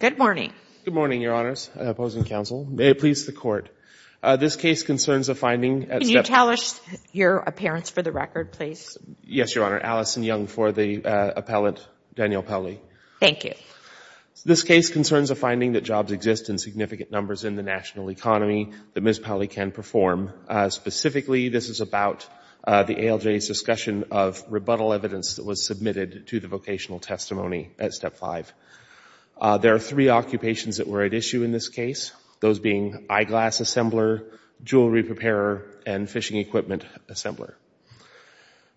Good morning. Good morning, Your Honors. Opposing counsel. May it please the Court. This case concerns a finding at Stepney. Can you tell us your appearance for the record, please? Yes, Your Honor. Allison Young for the appellant, Danielle Pauley. Thank you. This case concerns a finding that jobs exist in significant numbers in the national economy that Ms. Pauley can perform. Specifically, this is about the ALJ's discussion of rebuttal evidence that was submitted to the vocational testimony at Step 5. There are three occupations that were at issue in this case, those being eyeglass assembler, jewelry preparer, and fishing equipment assembler.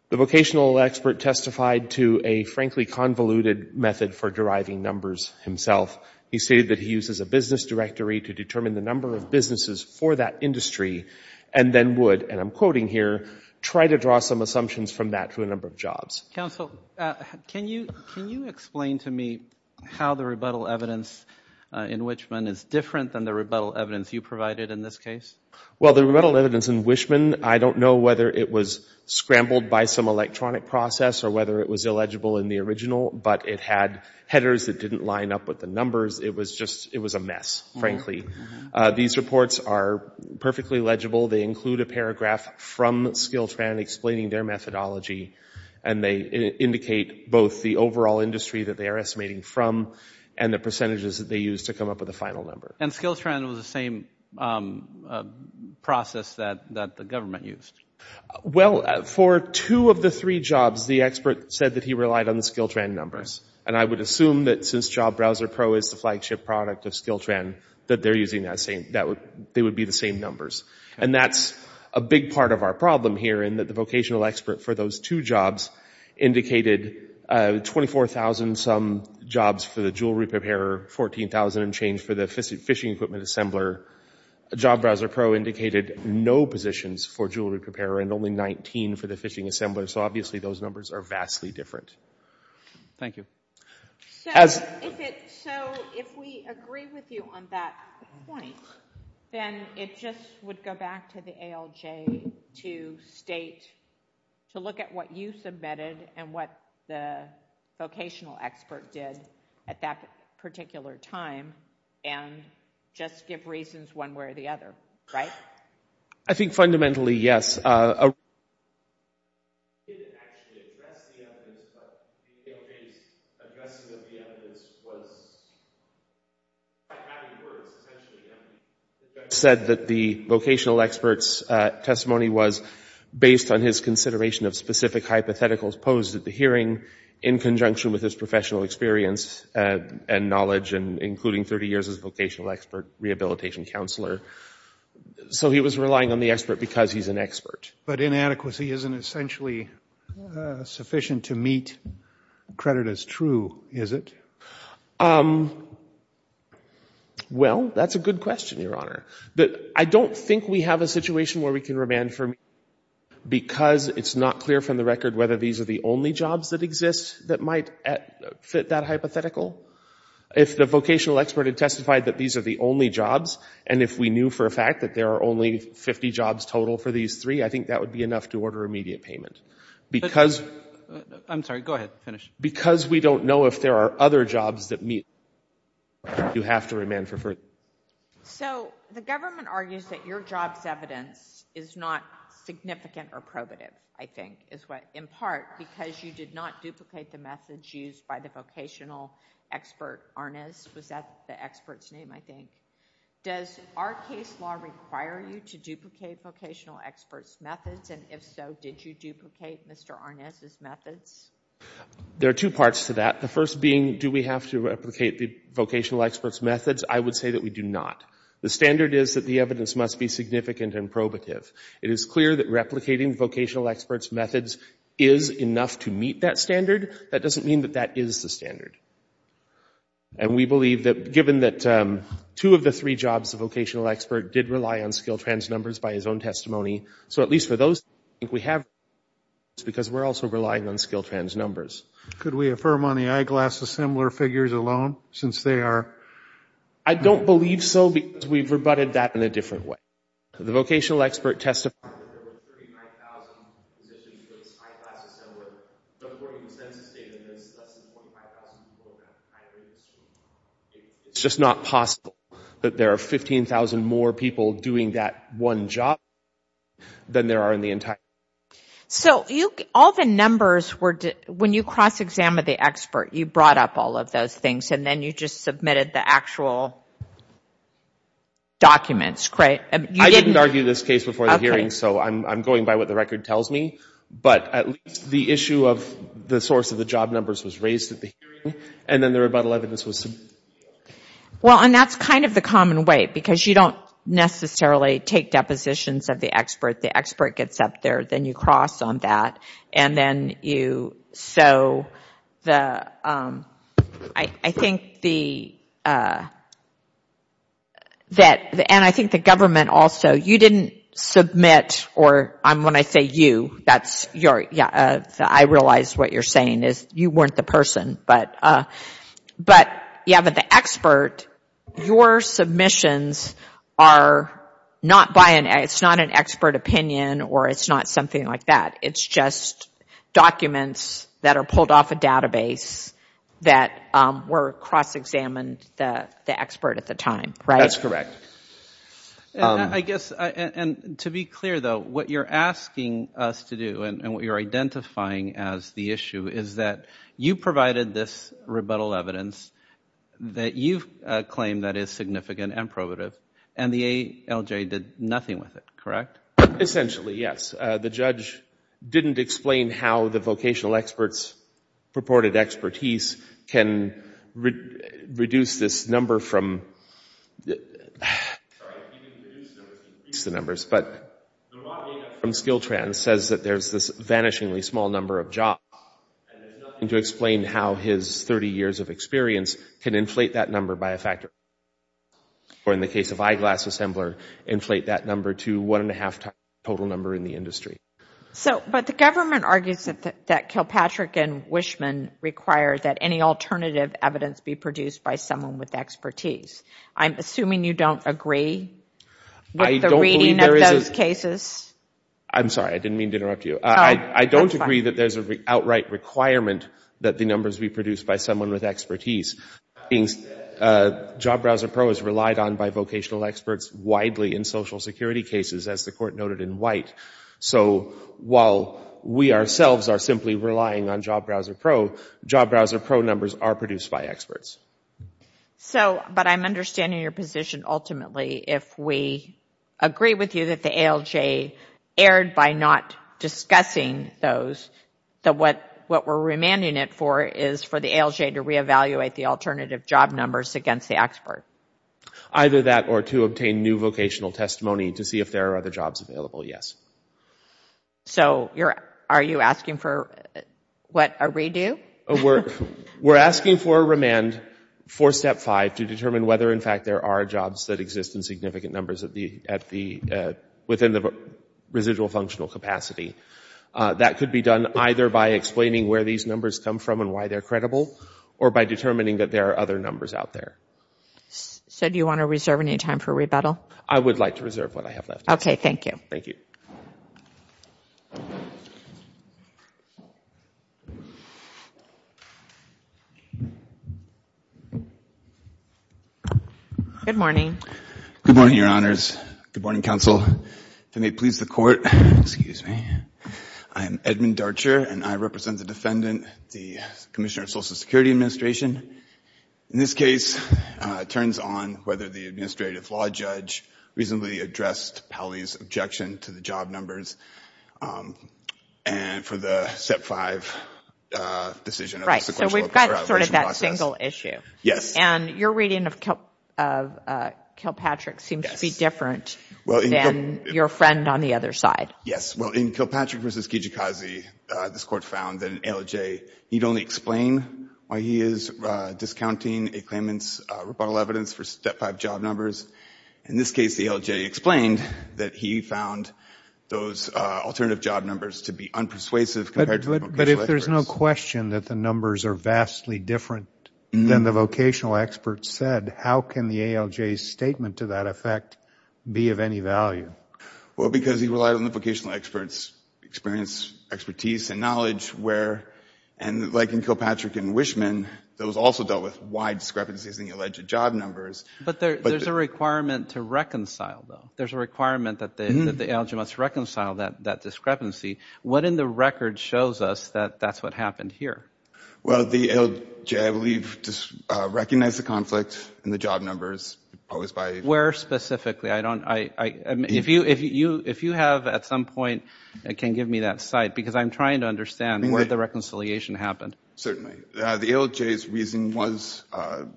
The vocational expert testified to a frankly convoluted method for deriving numbers himself. He stated that he uses a business directory to determine the number of businesses for that industry and then would, and I'm quoting here, try to draw some assumptions from that for a number of jobs. Counsel, can you explain to me how the rebuttal evidence in Wichman is different than the rebuttal evidence you provided in this case? Well, the rebuttal evidence in Wichman, I don't know whether it was scrambled by some electronic process or whether it was illegible in the original, but it had headers that didn't line up with the numbers. It was just, it was a mess, frankly. These reports are perfectly legible. They include a paragraph from SkillTran explaining their methodology, and they indicate both the overall industry that they are estimating from and the percentages that they use to come up with a final number. And SkillTran was the same process that the government used? Well, for two of the three jobs, the expert said that he relied on the SkillTran numbers. And I would assume that since JobBrowserPro is the flagship product of SkillTran, that they're using that same, that they would be the same numbers. And that's a big part of our problem here in that the vocational expert for those two jobs indicated 24,000 some jobs for the jewelry preparer, 14,000 and change for the fishing equipment assembler. JobBrowserPro indicated no positions for jewelry preparer and only 19 for the fishing assembler. So obviously those numbers are vastly different. Thank you. So if we agree with you on that point, then it just would go back to the ALJ to state, to look at what you submitted and what the vocational expert did at that particular time and just give reasons one way or the other. I think fundamentally, yes. He didn't actually address the evidence, but the ALJ's addressing of the evidence was by having words, essentially. The judge said that the vocational expert's testimony was based on his consideration of specific hypotheticals posed at the hearing in conjunction with his professional experience and knowledge, including 30 years as a vocational expert rehabilitation counselor. So he was relying on the expert because he's an expert. But inadequacy isn't essentially sufficient to meet credit as true, is it? Well, that's a good question, Your Honor. But I don't think we have a situation where we can remand for me because it's not clear from the record whether these are the only jobs that exist that might fit that hypothetical. If the vocational expert had testified that these are the only jobs, and if we knew for a fact that there are only 50 jobs total for these three, I think that would be enough to order immediate payment. I'm sorry. Go ahead. Finish. Because we don't know if there are other jobs that meet, you have to remand for further. So the government argues that your job's evidence is not significant or probative, I think, in part because you did not duplicate the methods used by the vocational expert Arnaz. Was that the expert's name, I think? Does our case law require you to duplicate vocational experts' methods? And if so, did you duplicate Mr. Arnaz's methods? There are two parts to that. The first being, do we have to replicate the vocational expert's methods? I would say that we do not. The standard is that the evidence must be significant and probative. It is clear that replicating vocational expert's methods is enough to meet that standard. That doesn't mean that that is the standard. And we believe that, given that two of the three jobs the vocational expert did rely on skill trans numbers by his own testimony, so at least for those, I think we have the evidence because we're also relying on skill trans numbers. Could we affirm on the eyeglass assembler figures alone, since they are? I don't believe so because we've rebutted that in a different way. The vocational expert testified that there were 35,000 positions for his eyeglass assembler, but according to census data, there's less than 25,000 people in that eyeglass assembly. It's just not possible that there are 15,000 more people doing that one job than there are in the entire country. So all the numbers were, when you cross-examined the expert, you brought up all of those things and then you just submitted the actual documents, correct? I didn't argue this case before the hearing, so I'm going by what the record tells me, but at least the issue of the source of the job numbers was raised at the hearing, and then the rebuttal evidence was submitted. Well, and that's kind of the common way because you don't necessarily take depositions of the expert. The expert gets up there, then you cross on that, and then you, so I think the government also, you didn't submit, or when I say you, I realize what you're saying is you weren't the person, but yeah, but the expert, your submissions are not by an, it's not an expert opinion or it's not something like that. It's just documents that are pulled off a database that were cross-examined, the expert at the time, right? That's correct. I guess, and to be clear, though, what you're asking us to do and what you're identifying as the issue is that you provided this rebuttal evidence that you've claimed that is significant and probative, and the ALJ did nothing with it, correct? Essentially, yes. The judge didn't explain how the vocational experts' purported expertise can reduce this number from, sorry, he didn't reduce the numbers, he increased the numbers, but the raw data from Skiltrans says that there's this vanishingly small number of jobs, and there's nothing to explain how his 30 years of experience can inflate that number by a factor, or in the case of Eyeglass Assembler, inflate that number to one and a half times the total number in the industry. So, but the government argues that Kilpatrick and Wishman require that any alternative evidence be produced by someone with expertise. I'm assuming you don't agree with the reading of those cases? I'm sorry, I didn't mean to interrupt you. I don't agree that there's an outright requirement that the numbers be produced by someone with expertise. Job Browser Pro is relied on by vocational experts widely in Social Security cases, as the Court noted in White. So while we ourselves are simply relying on Job Browser Pro, Job Browser Pro numbers are produced by experts. So, but I'm understanding your position ultimately if we agree with you that the ALJ erred by not discussing those, that what we're remanding it for is for the ALJ to reevaluate the alternative job numbers against the expert. Either that or to obtain new vocational testimony to see if there are other jobs available, yes. So, are you asking for, what, a redo? We're asking for a remand for Step 5 to determine whether, in fact, there are jobs that exist in significant numbers within the residual functional capacity. That could be done either by explaining where these numbers come from and why they're credible, or by determining that there are other numbers out there. So do you want to reserve any time for rebuttal? I would like to reserve what I have left. Okay, thank you. Thank you. Good morning. Good morning, Your Honors. Good morning, Counsel. If it may please the Court, excuse me. I am Edmund Darcher, and I represent the defendant, the Commissioner of Social Security Administration. In this case, it turns on whether the administrative law judge reasonably addressed Pally's objection to the job numbers. And for the Step 5 decision. So we've got sort of that single issue. Yes. And your reading of Kilpatrick seems to be different than your friend on the other side. Yes. Well, in Kilpatrick v. Kijikazi, this Court found that an ALJ need only explain why he is discounting a claimant's rebuttal evidence for Step 5 job numbers. In this case, the ALJ explained that he found those alternative job numbers to be unpersuasive compared to the vocational experts. But if there's no question that the numbers are vastly different than the vocational experts said, how can the ALJ's statement to that effect be of any value? Well, because he relied on the vocational experts' experience, expertise, and knowledge. And like in Kilpatrick and Wishman, those also dealt with wide discrepancies in the alleged job numbers. But there's a requirement to reconcile, though. There's a requirement that the ALJ must reconcile that discrepancy. What in the record shows us that that's what happened here? Well, the ALJ, I believe, recognized the conflict in the job numbers posed by— Where specifically? If you have at some point, you can give me that site, because I'm trying to understand where the reconciliation happened. Certainly. The ALJ's reason was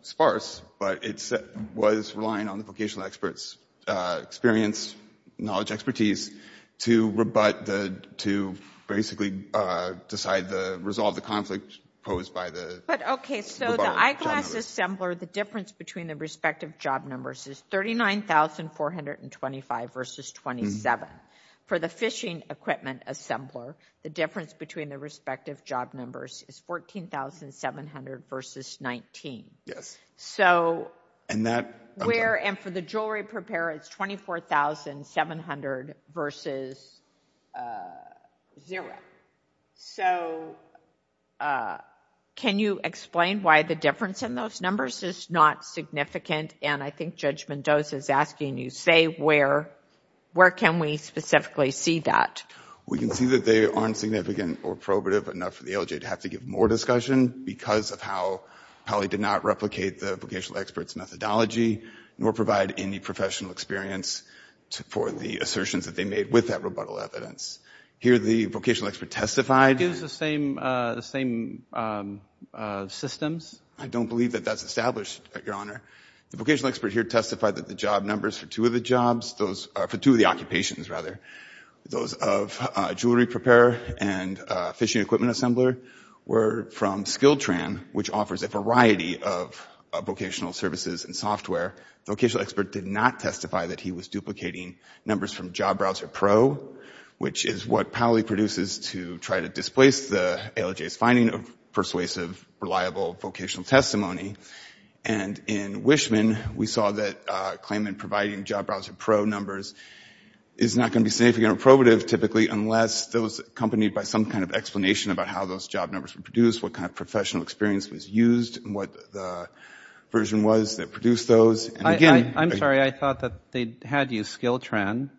sparse, but it was relying on the vocational experts' experience, knowledge, expertise, to basically decide to resolve the conflict posed by the job numbers. But, okay, so the eyeglass assembler, the difference between the respective job numbers is 39,425 versus 27. For the fishing equipment assembler, the difference between the respective job numbers is 14,700 versus 19. So— And that— And for the jewelry preparer, it's 24,700 versus zero. So can you explain why the difference in those numbers is not significant? And I think Judge Mendoza is asking you, say where can we specifically see that? We can see that they aren't significant or probative enough for the ALJ to have to give more discussion because of how they did not replicate the vocational experts' methodology nor provide any professional experience for the assertions that they made with that rebuttal evidence. Here, the vocational expert testified— It gives the same systems? I don't believe that that's established, Your Honor. The vocational expert here testified that the job numbers for two of the jobs— for two of the occupations, rather, those of jewelry preparer and fishing equipment assembler were from SkillTran, which offers a variety of vocational services and software. The vocational expert did not testify that he was duplicating numbers from Job Browser Pro, which is what PAOLE produces to try to displace the ALJ's finding of persuasive, reliable vocational testimony. And in Wishman, we saw that claimant providing Job Browser Pro numbers is not going to be significant or probative, typically, unless it was accompanied by some kind of explanation about how those job numbers were produced, what kind of professional experience was used, and what the version was that produced those. I'm sorry. I thought that they had used SkillTran,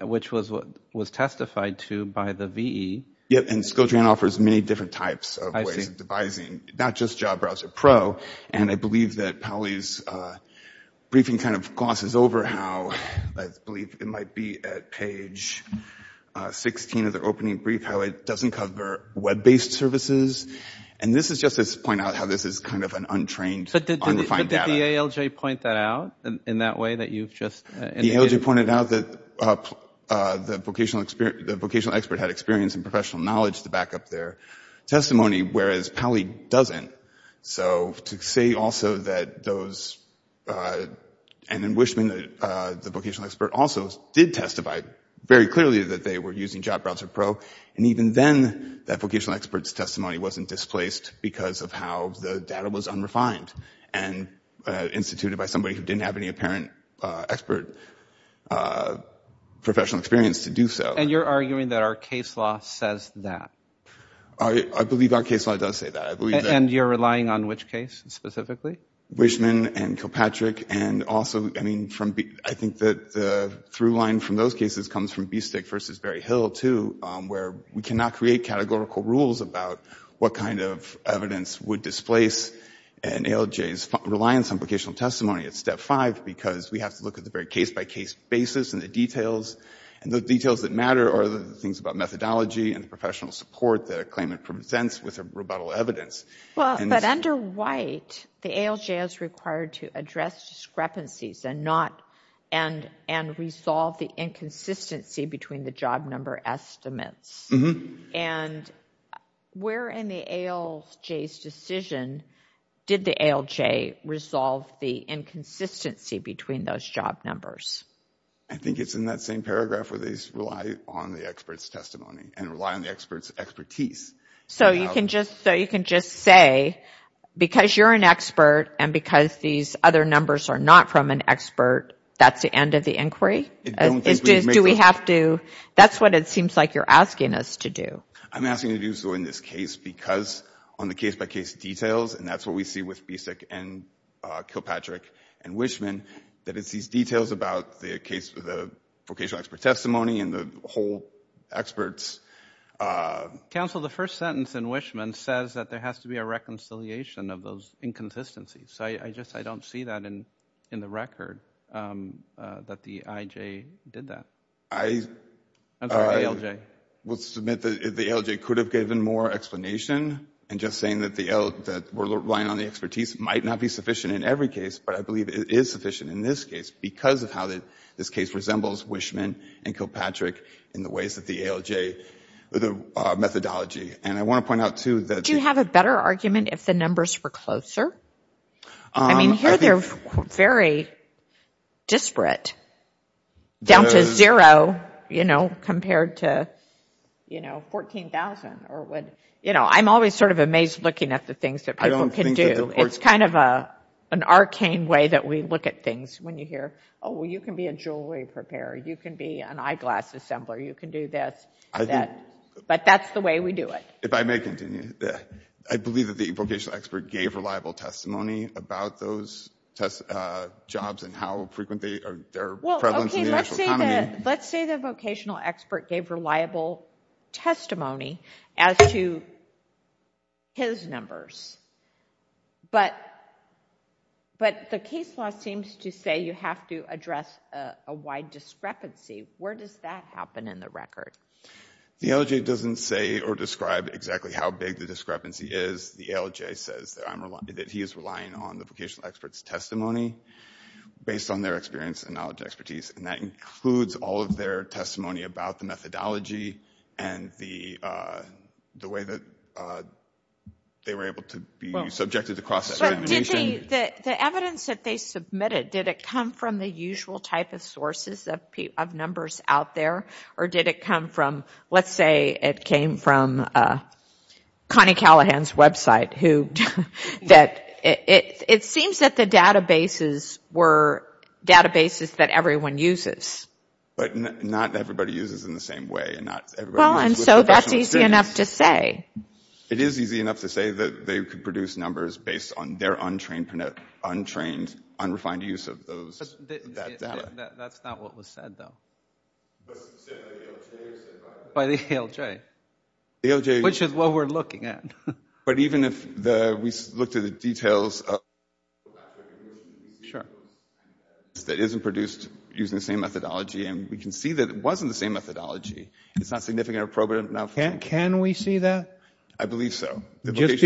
which was what was testified to by the VE. Yeah, and SkillTran offers many different types of ways of devising, not just Job Browser Pro. And I believe that PAOLE's briefing kind of glosses over how— I believe it might be at page 16 of their opening brief—how it doesn't cover web-based services. And this is just to point out how this is kind of an untrained, unrefined data. Did the ALJ point that out in that way that you've just indicated? The ALJ pointed out that the vocational expert had experience and professional knowledge to back up their testimony, whereas PAOLE doesn't. So to say also that those—and in Wishman, the vocational expert also did testify very clearly that they were using Job Browser Pro, and even then that vocational expert's testimony wasn't displaced because of how the data was unrefined and instituted by somebody who didn't have any apparent expert professional experience to do so. And you're arguing that our case law says that? I believe our case law does say that. I believe that— And you're relying on which case specifically? Wishman and Kilpatrick, and also, I mean, from—I think that the through line from those cases comes from Bistik versus Berryhill, too, where we cannot create categorical rules about what kind of evidence would displace an ALJ's reliance on vocational testimony at Step 5 because we have to look at the very case-by-case basis and the details. And the details that matter are the things about methodology and professional support that a claimant presents with rebuttal evidence. Well, but under White, the ALJ is required to address discrepancies and not—and resolve the inconsistency between the job number estimates. And where in the ALJ's decision did the ALJ resolve the inconsistency between those job numbers? I think it's in that same paragraph where they rely on the expert's testimony and rely on the expert's expertise. So you can just say, because you're an expert and because these other numbers are not from an expert, that's the end of the inquiry? Do we have to—that's what it seems like you're asking us to do. I'm asking you to do so in this case because on the case-by-case details, and that's what we see with Bistik and Kilpatrick and Wishman, that it's these details about the vocational expert testimony and the whole expert's— Counsel, the first sentence in Wishman says that there has to be a reconciliation of those inconsistencies. So I just—I don't see that in the record, that the IJ did that. I will submit that the ALJ could have given more explanation. And just saying that we're relying on the expertise might not be sufficient in every case, but I believe it is sufficient in this case because of how this case resembles Wishman and Kilpatrick in the ways that the ALJ—the methodology. And I want to point out, too, that— Do you have a better argument if the numbers were closer? I mean, here they're very disparate, down to zero, you know, compared to, you know, 14,000. You know, I'm always sort of amazed looking at the things that people can do. It's kind of an arcane way that we look at things when you hear, oh, well, you can be a jewelry preparer. You can be an eyeglass assembler. You can do this, that. But that's the way we do it. If I may continue, I believe that the vocational expert gave reliable testimony about those jobs and how frequent they are—their prevalence in the national economy. Well, okay, let's say the vocational expert gave reliable testimony as to his numbers. But the case law seems to say you have to address a wide discrepancy. Where does that happen in the record? The ALJ doesn't say or describe exactly how big the discrepancy is. The ALJ says that he is relying on the vocational expert's testimony based on their experience and knowledge and expertise. And that includes all of their testimony about the methodology and the way that they were able to be subjected to cross-examination. The evidence that they submitted, did it come from the usual type of sources of numbers out there? Or did it come from, let's say it came from Connie Callahan's website? It seems that the databases were databases that everyone uses. But not everybody uses in the same way. Well, and so that's easy enough to say. It is easy enough to say that they could produce numbers based on their untrained, unrefined use of that data. That's not what was said, though. Was it said by the ALJ? By the ALJ, which is what we're looking at. But even if we looked at the details, that isn't produced using the same methodology, and we can see that it wasn't the same methodology, it's not significant or probative enough. Can we see that? I believe so. Just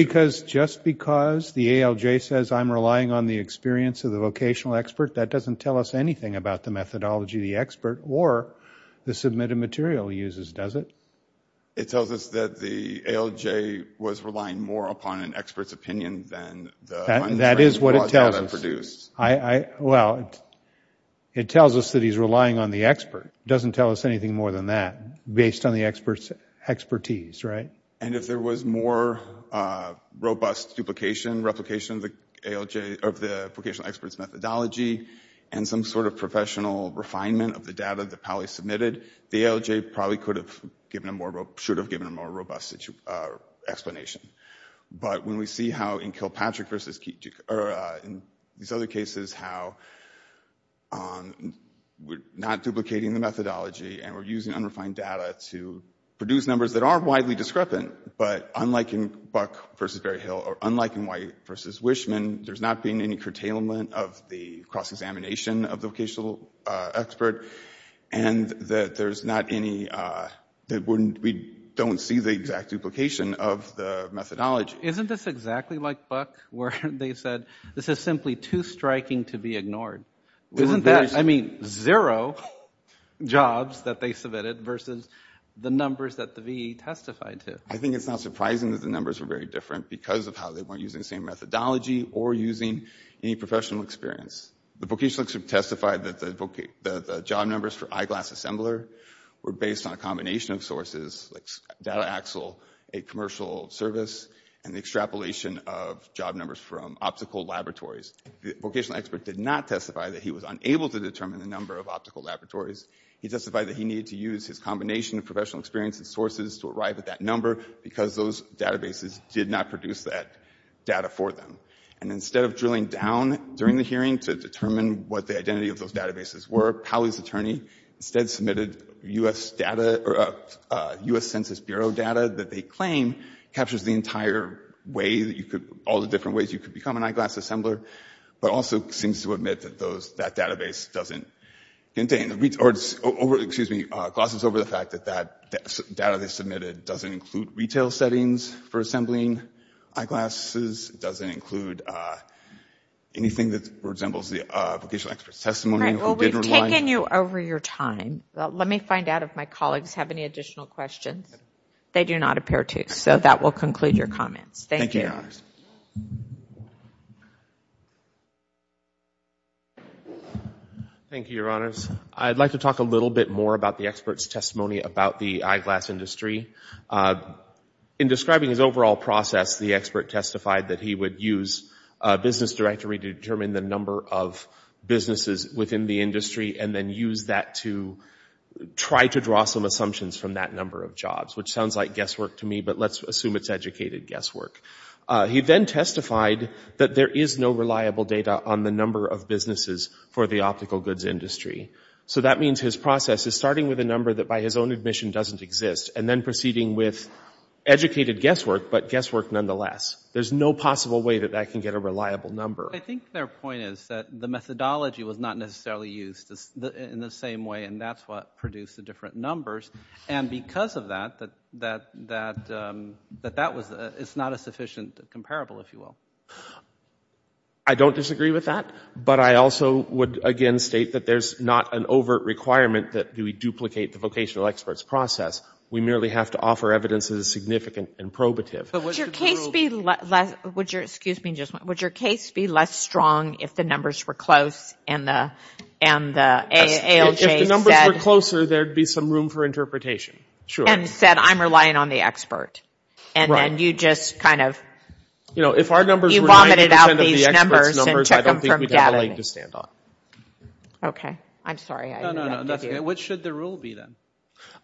because the ALJ says I'm relying on the experience of the vocational expert, that doesn't tell us anything about the methodology the expert or the submitted material uses, does it? It tells us that the ALJ was relying more upon an expert's opinion than the untrained raw data produced. That is what it tells us. Well, it tells us that he's relying on the expert. It doesn't tell us anything more than that, based on the expert's expertise, right? And if there was more robust duplication, replication of the vocational expert's methodology, and some sort of professional refinement of the data that Pally submitted, the ALJ probably should have given a more robust explanation. But when we see how in Kilpatrick versus Keating, or in these other cases, how we're not duplicating the methodology, and we're using unrefined data to produce numbers that aren't widely discrepant, but unlike in Buck versus Berryhill, or unlike in White versus Wishman, there's not been any curtailment of the cross-examination of the vocational expert, and that there's not any, that we don't see the exact duplication of the methodology. Isn't this exactly like Buck, where they said, this is simply too striking to be ignored? Isn't that, I mean, zero jobs that they submitted versus the numbers that the VE testified to? I think it's not surprising that the numbers were very different because of how they weren't using the same methodology or using any professional experience. The vocational expert testified that the job numbers for Eyeglass Assembler were based on a combination of sources, like Data Axle, a commercial service, and the extrapolation of job numbers from optical laboratories. The vocational expert did not testify that he was unable to determine the number of optical laboratories. He testified that he needed to use his combination of professional experience and sources to arrive at that number, because those databases did not produce that data for them. And instead of drilling down during the hearing to determine what the identity of those databases were, Cowley's attorney instead submitted U.S. data, or U.S. Census Bureau data that they claim captures the entire way that you could, all the different ways you could become an Eyeglass Assembler, but also seems to admit that that database doesn't contain, or, excuse me, glosses over the fact that that data they submitted doesn't include retail settings for assembling eyeglasses, doesn't include anything that resembles the vocational expert's testimony. All right, well, we've taken you over your time. Let me find out if my colleagues have any additional questions. They do not appear to, so that will conclude your comments. Thank you. Thank you, Your Honors. Thank you, Your Honors. I'd like to talk a little bit more about the expert's testimony about the eyeglass industry. In describing his overall process, the expert testified that he would use a business directory to determine the number of businesses within the industry and then use that to try to draw some assumptions from that number of jobs, which sounds like guesswork to me, but let's assume it's educated guesswork. He then testified that there is no reliable data on the number of businesses for the optical goods industry. So that means his process is starting with a number that by his own admission doesn't exist and then proceeding with educated guesswork, but guesswork nonetheless. There's no possible way that that can get a reliable number. I think their point is that the methodology was not necessarily used in the same way, and that's what produced the different numbers. And because of that, it's not a sufficient comparable, if you will. I don't disagree with that, but I also would again state that there's not an overt requirement that we duplicate the vocational experts process. We merely have to offer evidence that is significant and probative. Would your case be less strong if the numbers were close and the ALJ said... If the numbers were closer, there would be some room for interpretation. And said, I'm relying on the expert, and then you just kind of... You know, if our numbers were 90% of the experts' numbers, I don't think we'd have a leg to stand on. Okay, I'm sorry. No, no, no. What should the rule be then?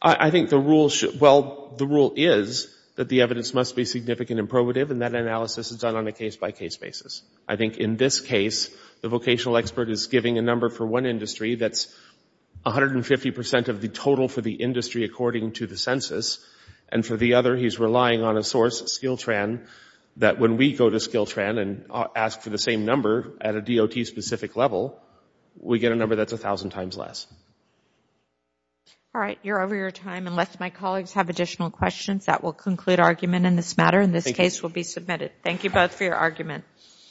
I think the rule should... Well, the rule is that the evidence must be significant and probative, and that analysis is done on a case-by-case basis. I think in this case, the vocational expert is giving a number for one industry that's 150% of the total for the industry according to the census, and for the other, he's relying on a source, Skiltran, that when we go to Skiltran and ask for the same number at a DOT-specific level, we get a number that's 1,000 times less. All right, you're over your time. Unless my colleagues have additional questions, that will conclude argument in this matter, and this case will be submitted. Thank you both for your argument.